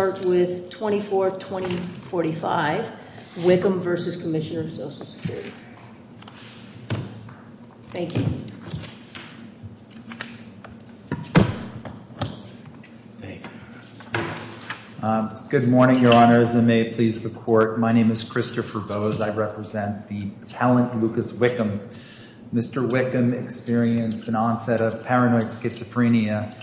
start with 242045, Wickham v. Commissioner of Social Security. Thank you. Good morning, Your Honors, and may it please the Court. My name is Christopher Boas. I represent the talent Lucas Wickham. Mr. Wickham experienced an onset of paranoid schizophrenia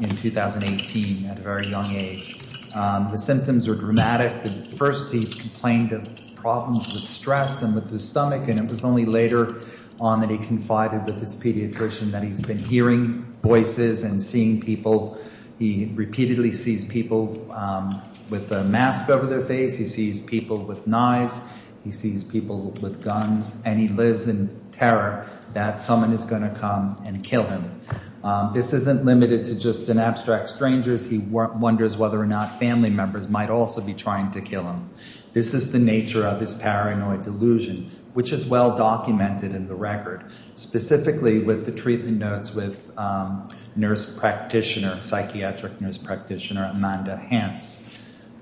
in 2018 at a very young age. The symptoms were dramatic. First, he complained of problems with stress and with his stomach, and it was only later on that he confided with his pediatrician that he's been hearing voices and seeing people. He repeatedly sees people with a mask over their face. He sees people with knives. He sees people with guns, and he lives in terror that someone is going to come and kill him. This isn't limited to just an abstract stranger. He wonders whether or not family members might also be trying to kill him. This is the nature of his paranoid delusion, which is well documented in the record, specifically with the treatment notes with nurse practitioner, psychiatric nurse practitioner, Amanda Hance,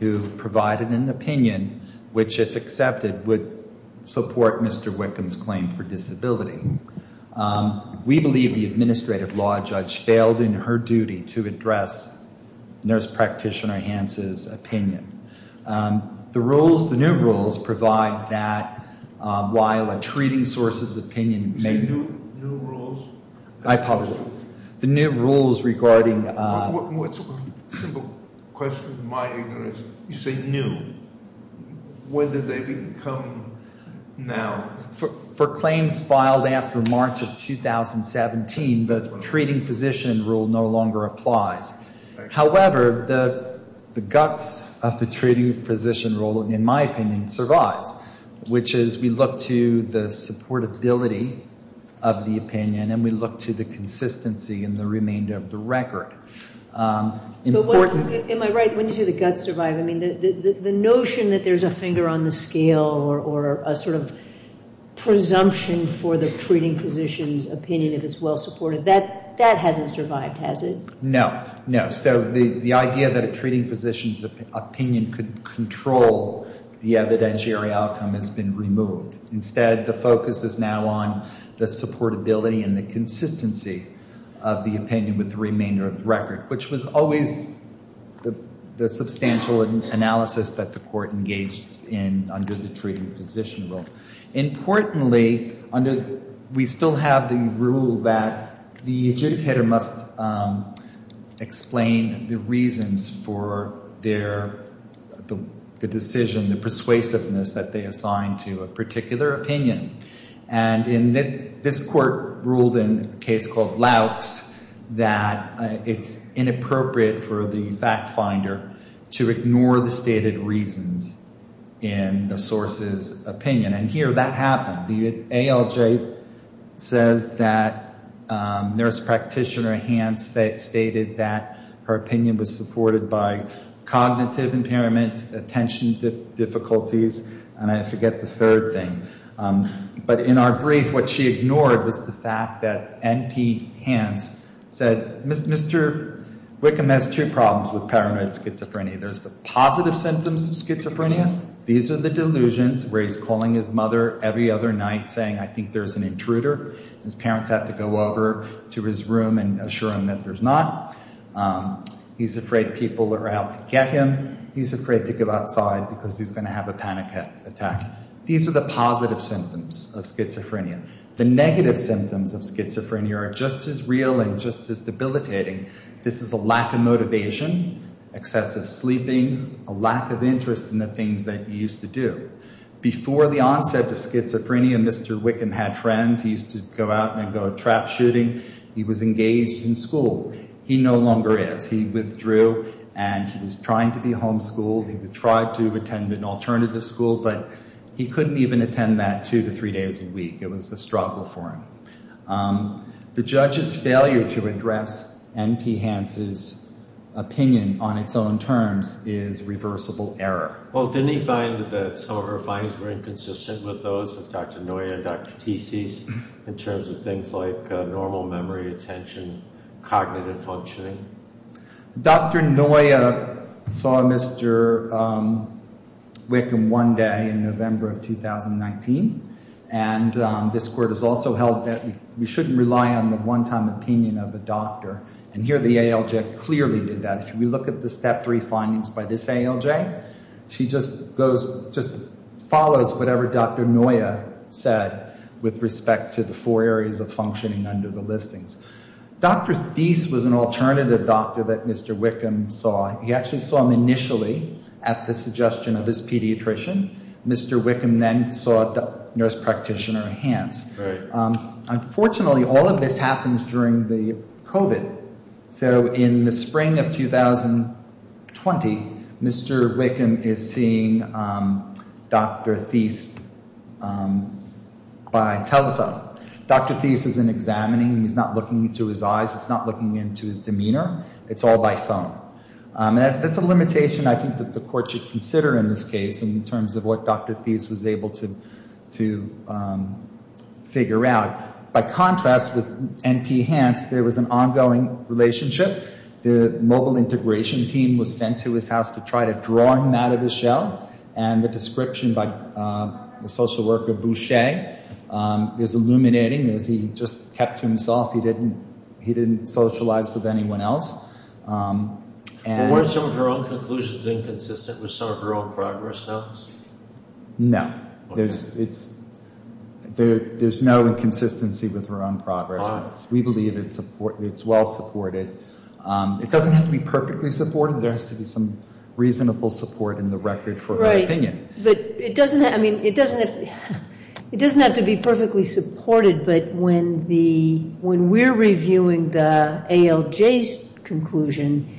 who provided an opinion which, if accepted, would support Mr. Wickham's claim for disability. We believe the administrative law judge failed in her duty to address nurse practitioner Hance's opinion. The new rules provide that while a treating source's opinion may... I probably will. The new rules regarding... For claims filed after March of 2017, the treating physician rule no longer applies. However, the guts of the treating physician rule, in my opinion, survives, which is we look to the supportability of the opinion, and we look to the consistency in the remainder of the record. Am I right when you say the guts survive? I mean, the notion that there's a finger on the scale or a sort of presumption for the treating physician's opinion, if it's well supported, that hasn't survived, has it? No. No. So the idea that a treating physician's opinion could control the evidentiary outcome has been completely removed. Instead, the focus is now on the supportability and the consistency of the opinion with the remainder of the record, which was always the substantial analysis that the court engaged in under the treating physician rule. Importantly, under... We still have the rule that the agitator must explain the reasons for their... The decision, the persuasiveness that they assign to a particular opinion. And this court ruled in a case called Laux that it's inappropriate for the fact finder to ignore the stated reasons in the source's opinion. And here, that happened. The ALJ says that nurse practitioner Hans stated that her opinion was supported by cognitive impairment, attention difficulties, and I forget the third thing. But in our brief, what she ignored was the fact that NP Hans said, Mr. Wickham has two problems with paranoid schizophrenia. There's the positive symptoms of schizophrenia. These are the delusions where he's calling his mother every other night saying, I think there's an intruder. His parents have to go over to his room and assure him that there's not. He's afraid people are out to get him. He's afraid to go outside because he's going to have a panic attack. These are the positive symptoms of schizophrenia. The negative symptoms of schizophrenia are just as real and just as debilitating. This is a lack of motivation, excessive sleeping, a lack of interest in the things that you used to do. Before the onset of schizophrenia, Mr. Wickham had friends. He used to go out and go trap shooting. He was engaged in school. He no longer is. He withdrew and he was trying to be homeschooled. He tried to attend an alternative school, but he couldn't even attend that two to three days a week. It was a struggle for him. The judge's failure to address NP Hans' opinion on its own terms is reversible error. Well, didn't he find that some of her findings were inconsistent with those of Dr. Noya and Dr. Teese's in terms of things like normal memory, attention, cognitive functioning? Dr. Noya saw Mr. Wickham one day in November of 2019. And this court has also held that we shouldn't rely on the one-time opinion of the doctor. And here the ALJ clearly did that. If we look at the step three findings by this ALJ, she just follows whatever Dr. Noya said with respect to the four areas of functioning under the listings. Dr. Teese was an alternative doctor that Mr. Wickham saw. He actually saw him initially at the suggestion of his pediatrician. Mr. Wickham then saw nurse practitioner Hans. Unfortunately, all of this happens during the COVID. So in the spring of 2020, Mr. Wickham is seeing Dr. Teese by telephone. Dr. Teese isn't examining. He's not looking into his eyes. It's not looking into his demeanor. It's all by phone. That's a limitation I think that the court should consider in this case in terms of what Dr. Teese was able to figure out. By contrast, with NP Hans, there was an ongoing relationship. The mobile integration team was sent to his house to try to draw him out of his shell. And the description by the social worker Boucher is illuminating. He just kept to himself. He didn't socialize with anyone else. Were some of her own conclusions inconsistent with some of her own progress notes? No. There's no inconsistency with her own progress notes. We believe it's well supported. It doesn't have to be perfectly supported. There has to be some reasonable support in the record for her opinion. It doesn't have to be perfectly supported. But when we're reviewing the ALJ's conclusion,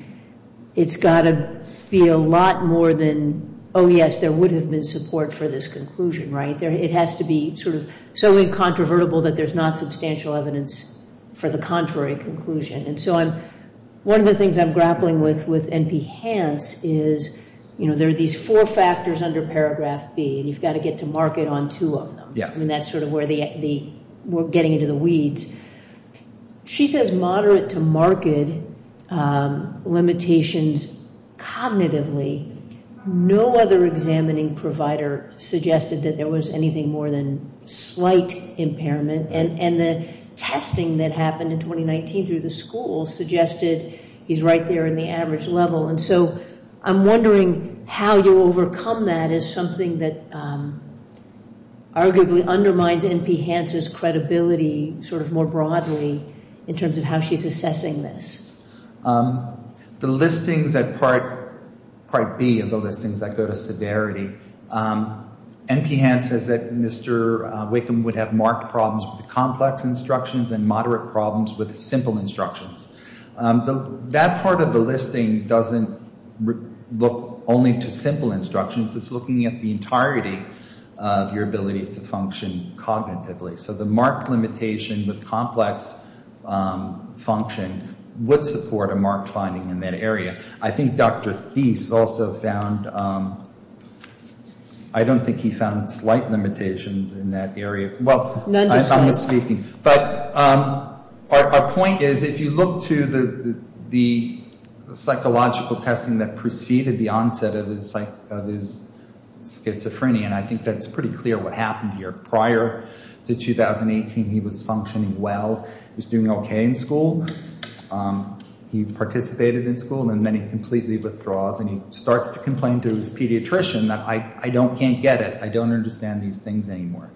it's got to be a lot more than, oh yes, there would have been support for this conclusion. It has to be so incontrovertible that there's not substantial evidence for the contrary conclusion. One of the things I'm grappling with with NP Hans is there are these four factors under paragraph B, and you've got to get to market on two of them. That's sort of where we're getting into the weeds. She says moderate to market limitations cognitively. No other examining provider suggested that there was anything more than slight impairment. And the testing that happened in 2019 through the school suggested he's right there in the average level. And so I'm wondering how you overcome that as something that arguably undermines NP Hans' credibility sort of more broadly in terms of how she's assessing this. The listings at part B of the listings that go to severity, NP Hans says that Mr. Wakeham would have marked problems with complex instructions and moderate problems with simple instructions. That part of the listing doesn't look only to simple instructions. It's looking at the entirety of your ability to function to support a marked finding in that area. I think Dr. Thies also found I don't think he found slight limitations in that area. Well, I'm just speaking. But our point is if you look to the psychological testing that preceded the onset of his schizophrenia, and I think that's pretty clear what happened here. Prior to 2018, he was functioning well. He was doing okay in school. He participated in school, and then he completely withdraws, and he starts to complain to his pediatrician that I can't get it. I don't understand these things anymore.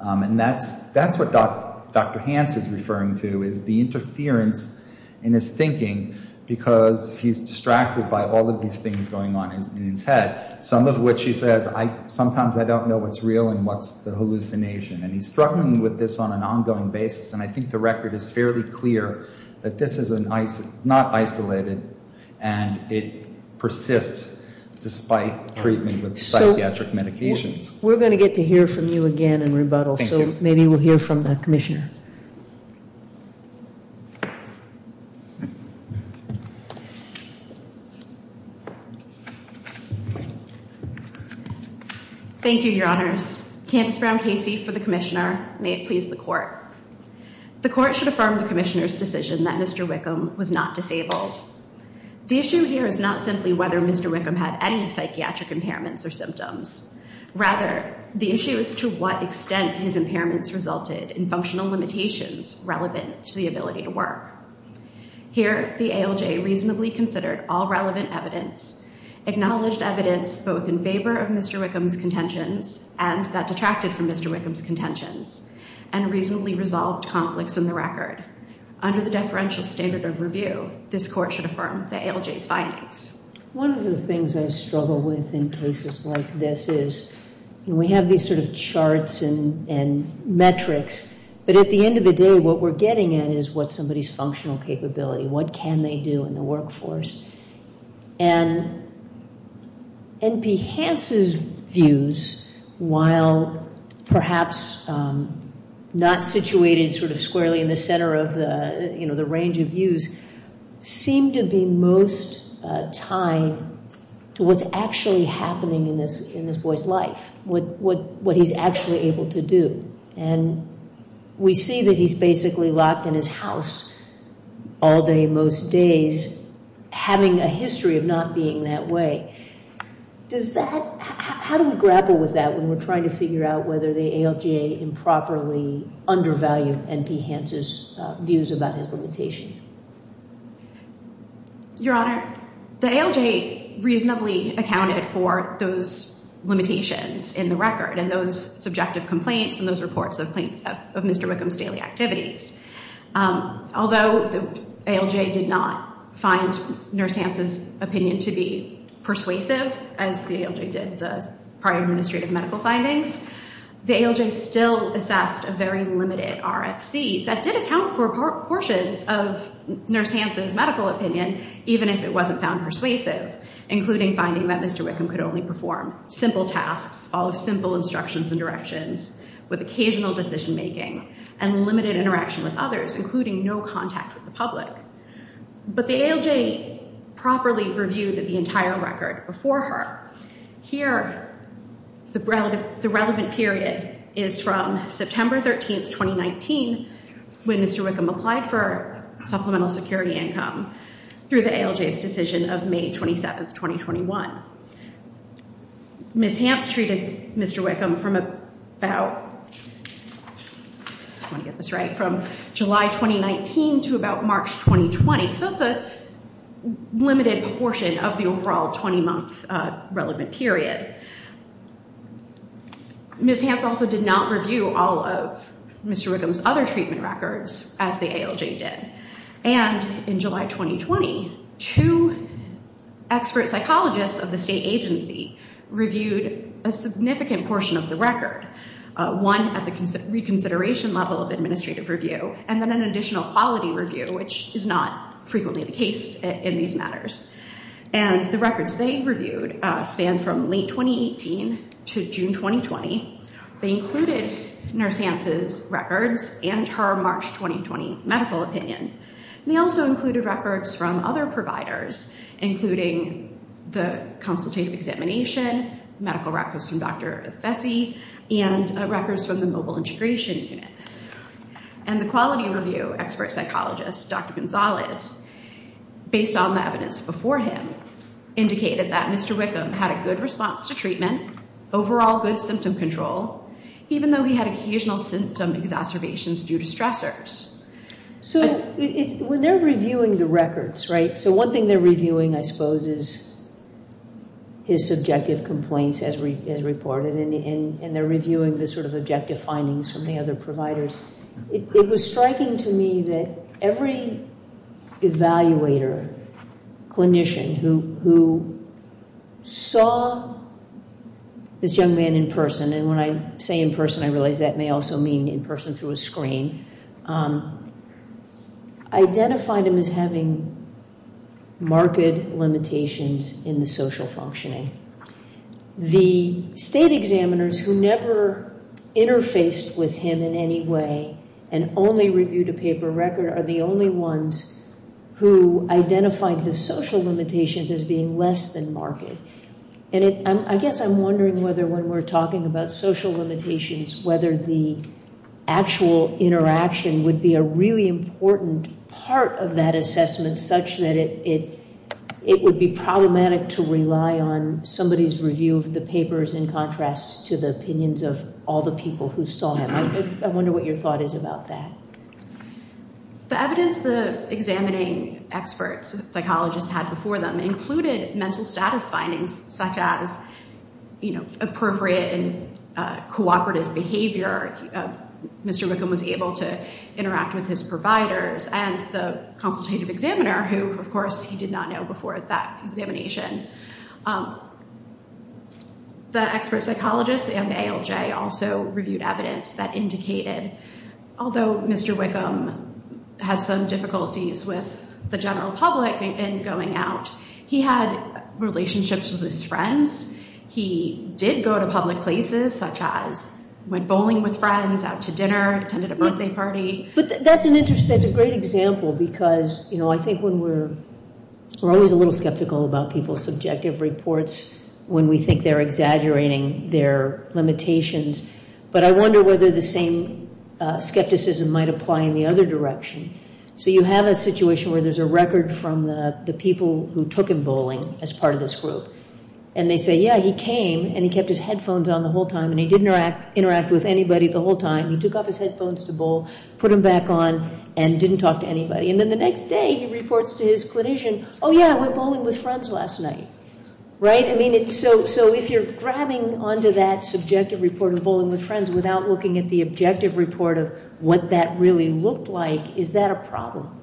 And that's what Dr. Hans is referring to is the interference in his thinking because he's distracted by all of these things going on in his head, some of which he says, sometimes I don't know what's real and what's the hallucination. And he's struggling with this on an ongoing basis, and I think the record is fairly clear that this is not isolated and it persists despite treatment with psychiatric medications. We're going to get to hear from you again in rebuttal, so maybe we'll hear from the Commissioner. Thank you, Your Honors. Candice Brown Casey for the Commissioner. May it please the Court. The Court should affirm the Commissioner's decision that Mr. Wickham was not disabled. The issue here is not simply whether Mr. Wickham had any psychiatric impairments or symptoms. Rather, the issue is to what extent his impairments resulted in functional limitations relevant to the ability to work. Here, the ALJ reasonably considered all relevant evidence, acknowledged evidence both in favor of Mr. Wickham's contentions and that detracted from Mr. Wickham's contentions, and reasonably resolved conflicts in the record. Under the deferential standard of review, this Court should affirm the ALJ's findings. One of the things I struggle with in cases like this is we have these sort of charts and metrics, but at the end of the day, what we're getting at is what's somebody's functional capability? What can they do in the workforce? And N.P. Hance's views, while perhaps not situated sort of squarely in the center of the range of views, seem to be most tied to what's actually happening in this boy's life, what he's actually able to do. And we see that he's basically locked in his house all day most days, having a history of not being that way. How do we grapple with that when we're trying to figure out whether the ALJ improperly undervalued N.P. Hance's views about his limitations? Your Honor, the ALJ reasonably accounted for those limitations in the record and those subjective complaints and those reports of Mr. Wickham's daily activities. Although the ALJ did not find N.P. Hance's opinion to be persuasive, as the ALJ did the prior administrative medical findings, the ALJ still assessed a very limited RFC that did account for portions of N.P. Hance's medical opinion, even if it wasn't found persuasive, including finding that Mr. Wickham could only perform simple tasks, follow simple instructions and directions, with occasional decision-making, and limited interaction with others, including no contact with the public. But the ALJ properly reviewed the entire record before her. Here, the relevant period is from September 13, 2019, when Mr. Wickham applied for supplemental security income through the ALJ's decision of May 27, 2021. Ms. Hance treated Mr. Wickham from about July 2019 to about March 2020, so it's a limited portion of the overall 20-month relevant period. Ms. Hance also did not review all of Mr. Wickham's other treatment records, as the ALJ did. And in July 2020, two expert psychologists of the state agency reviewed a significant portion of the record, one at the reconsideration level of administrative review, and then an additional quality review, which is not frequently the case in these matters. And the records they reviewed span from late 2018 to June 2020. They included Nurse Hance's records and her March 2020 medical opinion. They also included records from other providers, including the consultative examination, medical records from Dr. Fessy, and records from the mobile integration unit. And the quality review expert psychologist, Dr. Gonzalez, based on the evidence before him, indicated that Mr. Wickham had a good response to treatment, overall good symptom control, even though he had occasional symptom exacerbations due to stressors. So when they're reviewing the records, right, so one thing they're reviewing, I suppose, is his subjective complaints as reported, and they're reviewing the sort of objective findings from the other providers. It was striking to me that every evaluator, clinician who saw this young man in person, and when I say in person, I realize that may also mean in person through a screen, identified him as having marked limitations in the social functioning. The state examiners who never interfaced with him in any way and only reviewed a paper record are the only ones who identified the social limitations as being less than marked. And I guess I'm wondering whether when we're talking about social limitations, whether the actual interaction would be a really important part of that assessment such that it would be problematic to rely on somebody's review of the papers in contrast to the opinions of all the people who saw him. I wonder what your thought is about that. The evidence the examining experts, psychologists, had before them included mental status findings such as appropriate and cooperative behavior. Mr. Wickham was able to interact with his providers and the consultative examiner who, of course, he did not know before that examination. The expert psychologist and ALJ also reviewed evidence that indicated, although Mr. Wickham had some difficulties with the general public in going out, he had relationships with his friends. He did go to public places such as went bowling with friends, out to dinner, attended a birthday party. That's a great example because I think we're always a little skeptical about people's subjective reports when we think they're exaggerating their limitations. But I wonder whether the same skepticism might apply in the other direction. So you have a situation where there's a record from the people who took him bowling as part of this group. And they say, yeah, he came and he kept his headphones on the whole time and he didn't interact with anybody the whole time. He took off his headphones to bowl, put them back on, and didn't talk to anybody. And then the next day he reports to his clinician, oh, yeah, we're bowling with friends last night. Right? So if you're grabbing onto that subjective report of bowling with friends without looking at the objective report of what that really looked like, is that a problem?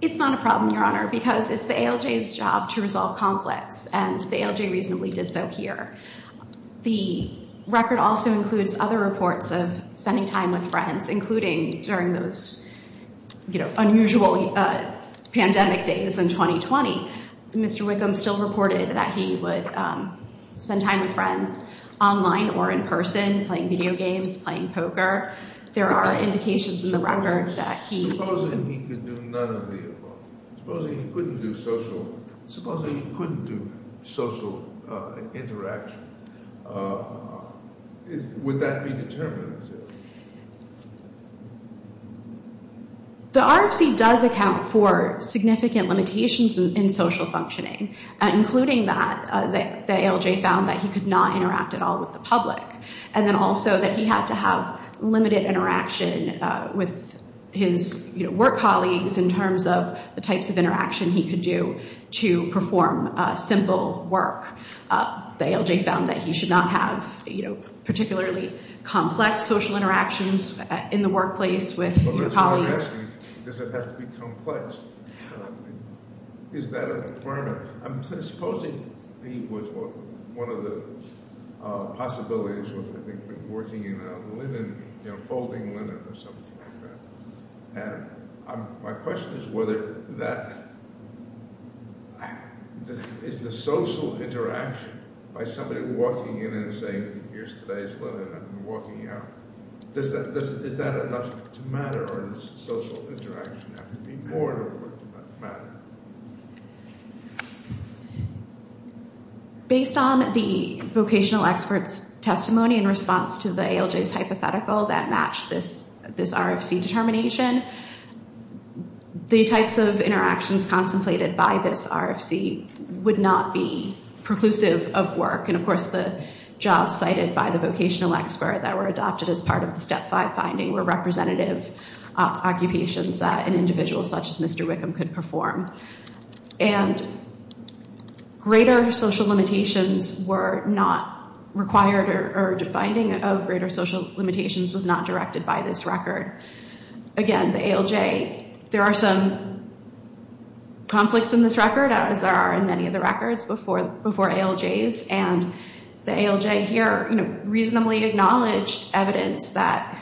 It's not a problem, Your Honor, because it's the ALJ's job to resolve conflicts. And the ALJ reasonably did so here. The record also includes other reports of spending time with friends, including during those unusual pandemic days in 2020. Mr. Wickham still reported that he would spend time with friends online or in person, playing video games, playing poker. There are indications in the record that he... Supposing he could do none of the above? Supposing he couldn't do social interaction? Would that be determined? The RFC does account for significant limitations in social functioning, including that the ALJ found that he could not interact at all with the public. And then also that he had to have limited interaction with his work colleagues in terms of the types of interaction he could do to perform simple work. The ALJ found that he should not have particularly complex social interactions in the workplace with his colleagues. Supposing he was one of the possibilities, working in a linen, folding linen or something like that. My question is whether that... Is the social interaction by somebody walking in and saying, here's today's linen and walking out. Is that enough to matter? Or does social interaction have to be more than what matters? Based on the vocational expert's testimony in response to the ALJ's hypothetical that matched this RFC determination, the types of interactions as well as the jobs cited by the vocational expert that were adopted as part of the Step 5 finding were representative occupations that an individual such as Mr. Wickham could perform. And greater social limitations were not required or the finding of greater social limitations was not directed by this record. Again, the ALJ... There are some conflicts in this record as there are in many of the records before ALJs. And the ALJ here reasonably acknowledged evidence that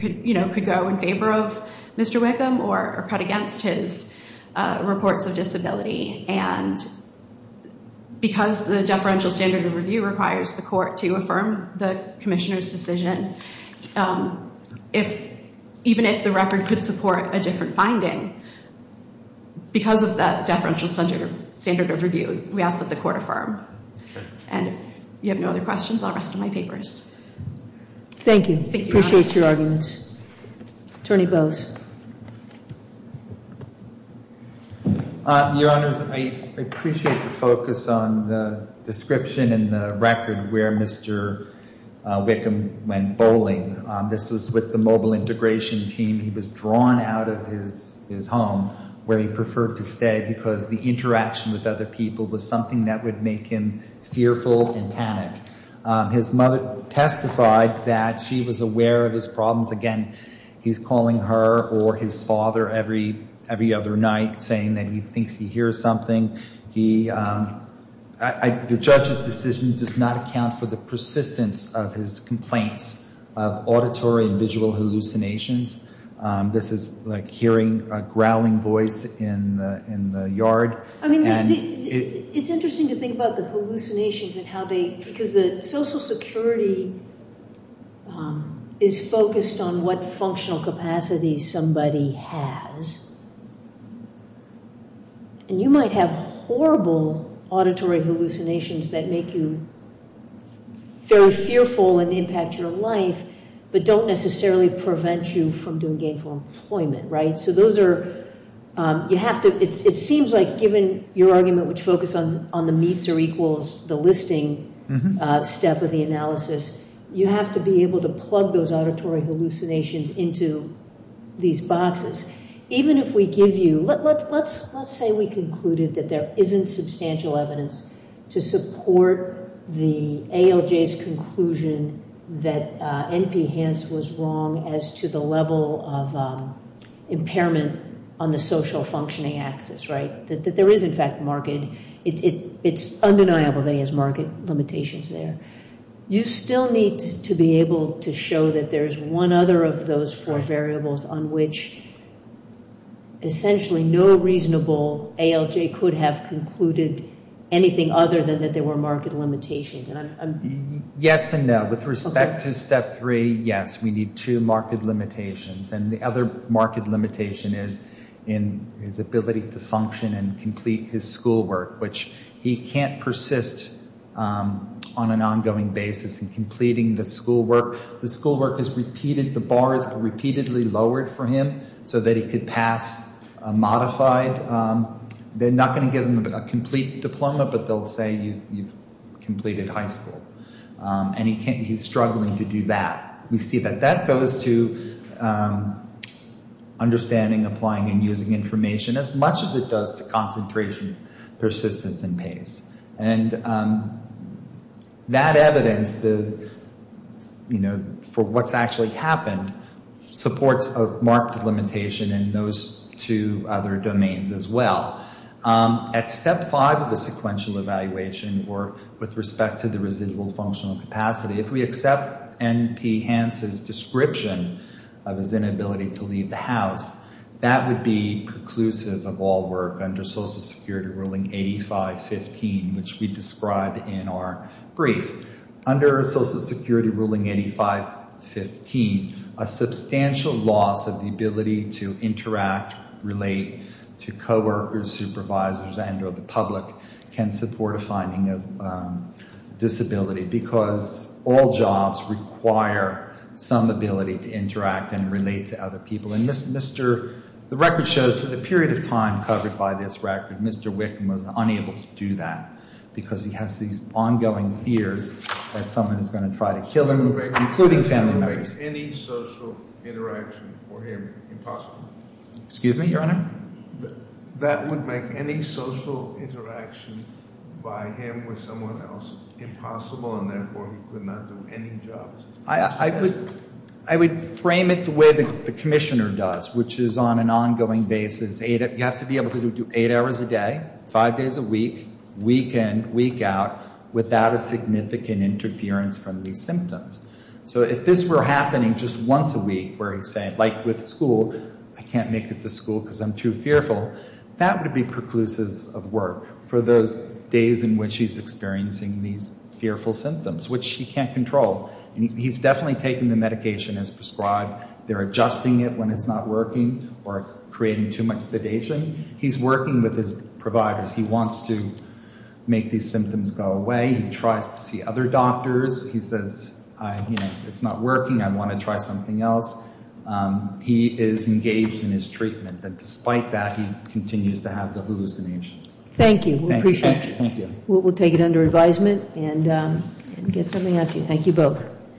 could go in favor of Mr. Wickham or cut against his reports of disability. And because the deferential standard of review requires the court to affirm the commissioner's decision, even if the record could support a different finding, because of that deferential standard of review, we ask that the court affirm. And if you have no other questions, I'll rest my papers. Thank you. Appreciate your arguments. Attorney Bowes. Your Honors, I appreciate the focus on the description and the record where Mr. Wickham went bowling. This was with the mobile integration team. He was drawn out of his home where he preferred to stay because the interaction with other people was something that would make him fearful and panic. His mother testified that she was aware of his problems. Again, he's calling her or his father every other night saying that he thinks he hears something. The judge's decision does not account for the persistence of his complaints of auditory and visual hallucinations. This is like hearing a growling voice in the yard. I mean, it's interesting to think about the hallucinations and how they, because the social security is focused on what functional capacity somebody has. And you might have horrible auditory hallucinations that make you very fearful and impact your life, but don't necessarily prevent you from doing gainful employment, right? So those are, you have to, it seems like given your argument, which focused on the meets or equals the listing step of the analysis, you have to be able to plug those auditory hallucinations into these boxes. Even if we give you, let's say we concluded that there isn't substantial evidence to support the ALJ's conclusion that N.P. Hans was wrong as to the level of impairment on the social functioning axis, right? That there is in fact market, it's undeniable that he has market limitations there. You still need to be able to show that there's one other of those four variables on which essentially no reasonable ALJ could have concluded anything other than that there were market limitations. Yes and no. With respect to step three, yes, we need two market limitations. And the other market limitation is in his ability to function and complete his schoolwork, which he can't persist on an ongoing basis in completing the schoolwork. The schoolwork is repeated, the bars are repeatedly lowered for him so that he could pass a modified, they're not going to give him a complete diploma, but they'll say you've completed high school. And he can't, he's struggling to do that. We see that that goes to understanding, applying and using information as much as it does to concentration, persistence and pace. And that evidence, you know, for what's actually happened supports a market limitation in those two other domains as well. At step five of the sequential evaluation, or with respect to the residual functional capacity, if we accept N.P. Hans' description of his inability to leave the house, that would be preclusive of all work under Social Security Ruling 85-15, which we described in our brief. Under Social Security Ruling 85-15, a substantial loss of the ability to interact, relate to coworkers, supervisors and or the public can support a finding of disability because all jobs require some ability to interact and relate to other people. And the record shows for the period of time covered by this record Mr. Wickham was unable to do that because he has these ongoing fears that someone is going to try to kill him, including family members. That would make any social interaction for him impossible. Excuse me, Your Honor? That would make any social interaction by him with someone else impossible and therefore he could not do any jobs. I would frame it the way the Commissioner does, which is on an ongoing basis. You have to be able to do eight hours a day, five days a week, weekend, week out, without a significant interference from these symptoms. So if this were happening just once a week where he's saying, like with school, I can't make it to school because I'm too fearful, that would be preclusive of work for those days in which he's experiencing these fearful symptoms, which he can't control. He's definitely taking the medication as prescribed. They're adjusting it when it's not working or creating too much sedation. He's working with his providers. He wants to make these symptoms go away. He tries to see other doctors. He says, it's not working. I want to try something else. He is engaged in his treatment. Despite that, he continues to have the hallucinations. Thank you. We appreciate you. We'll take it under advisement and get something out to you. Thank you both.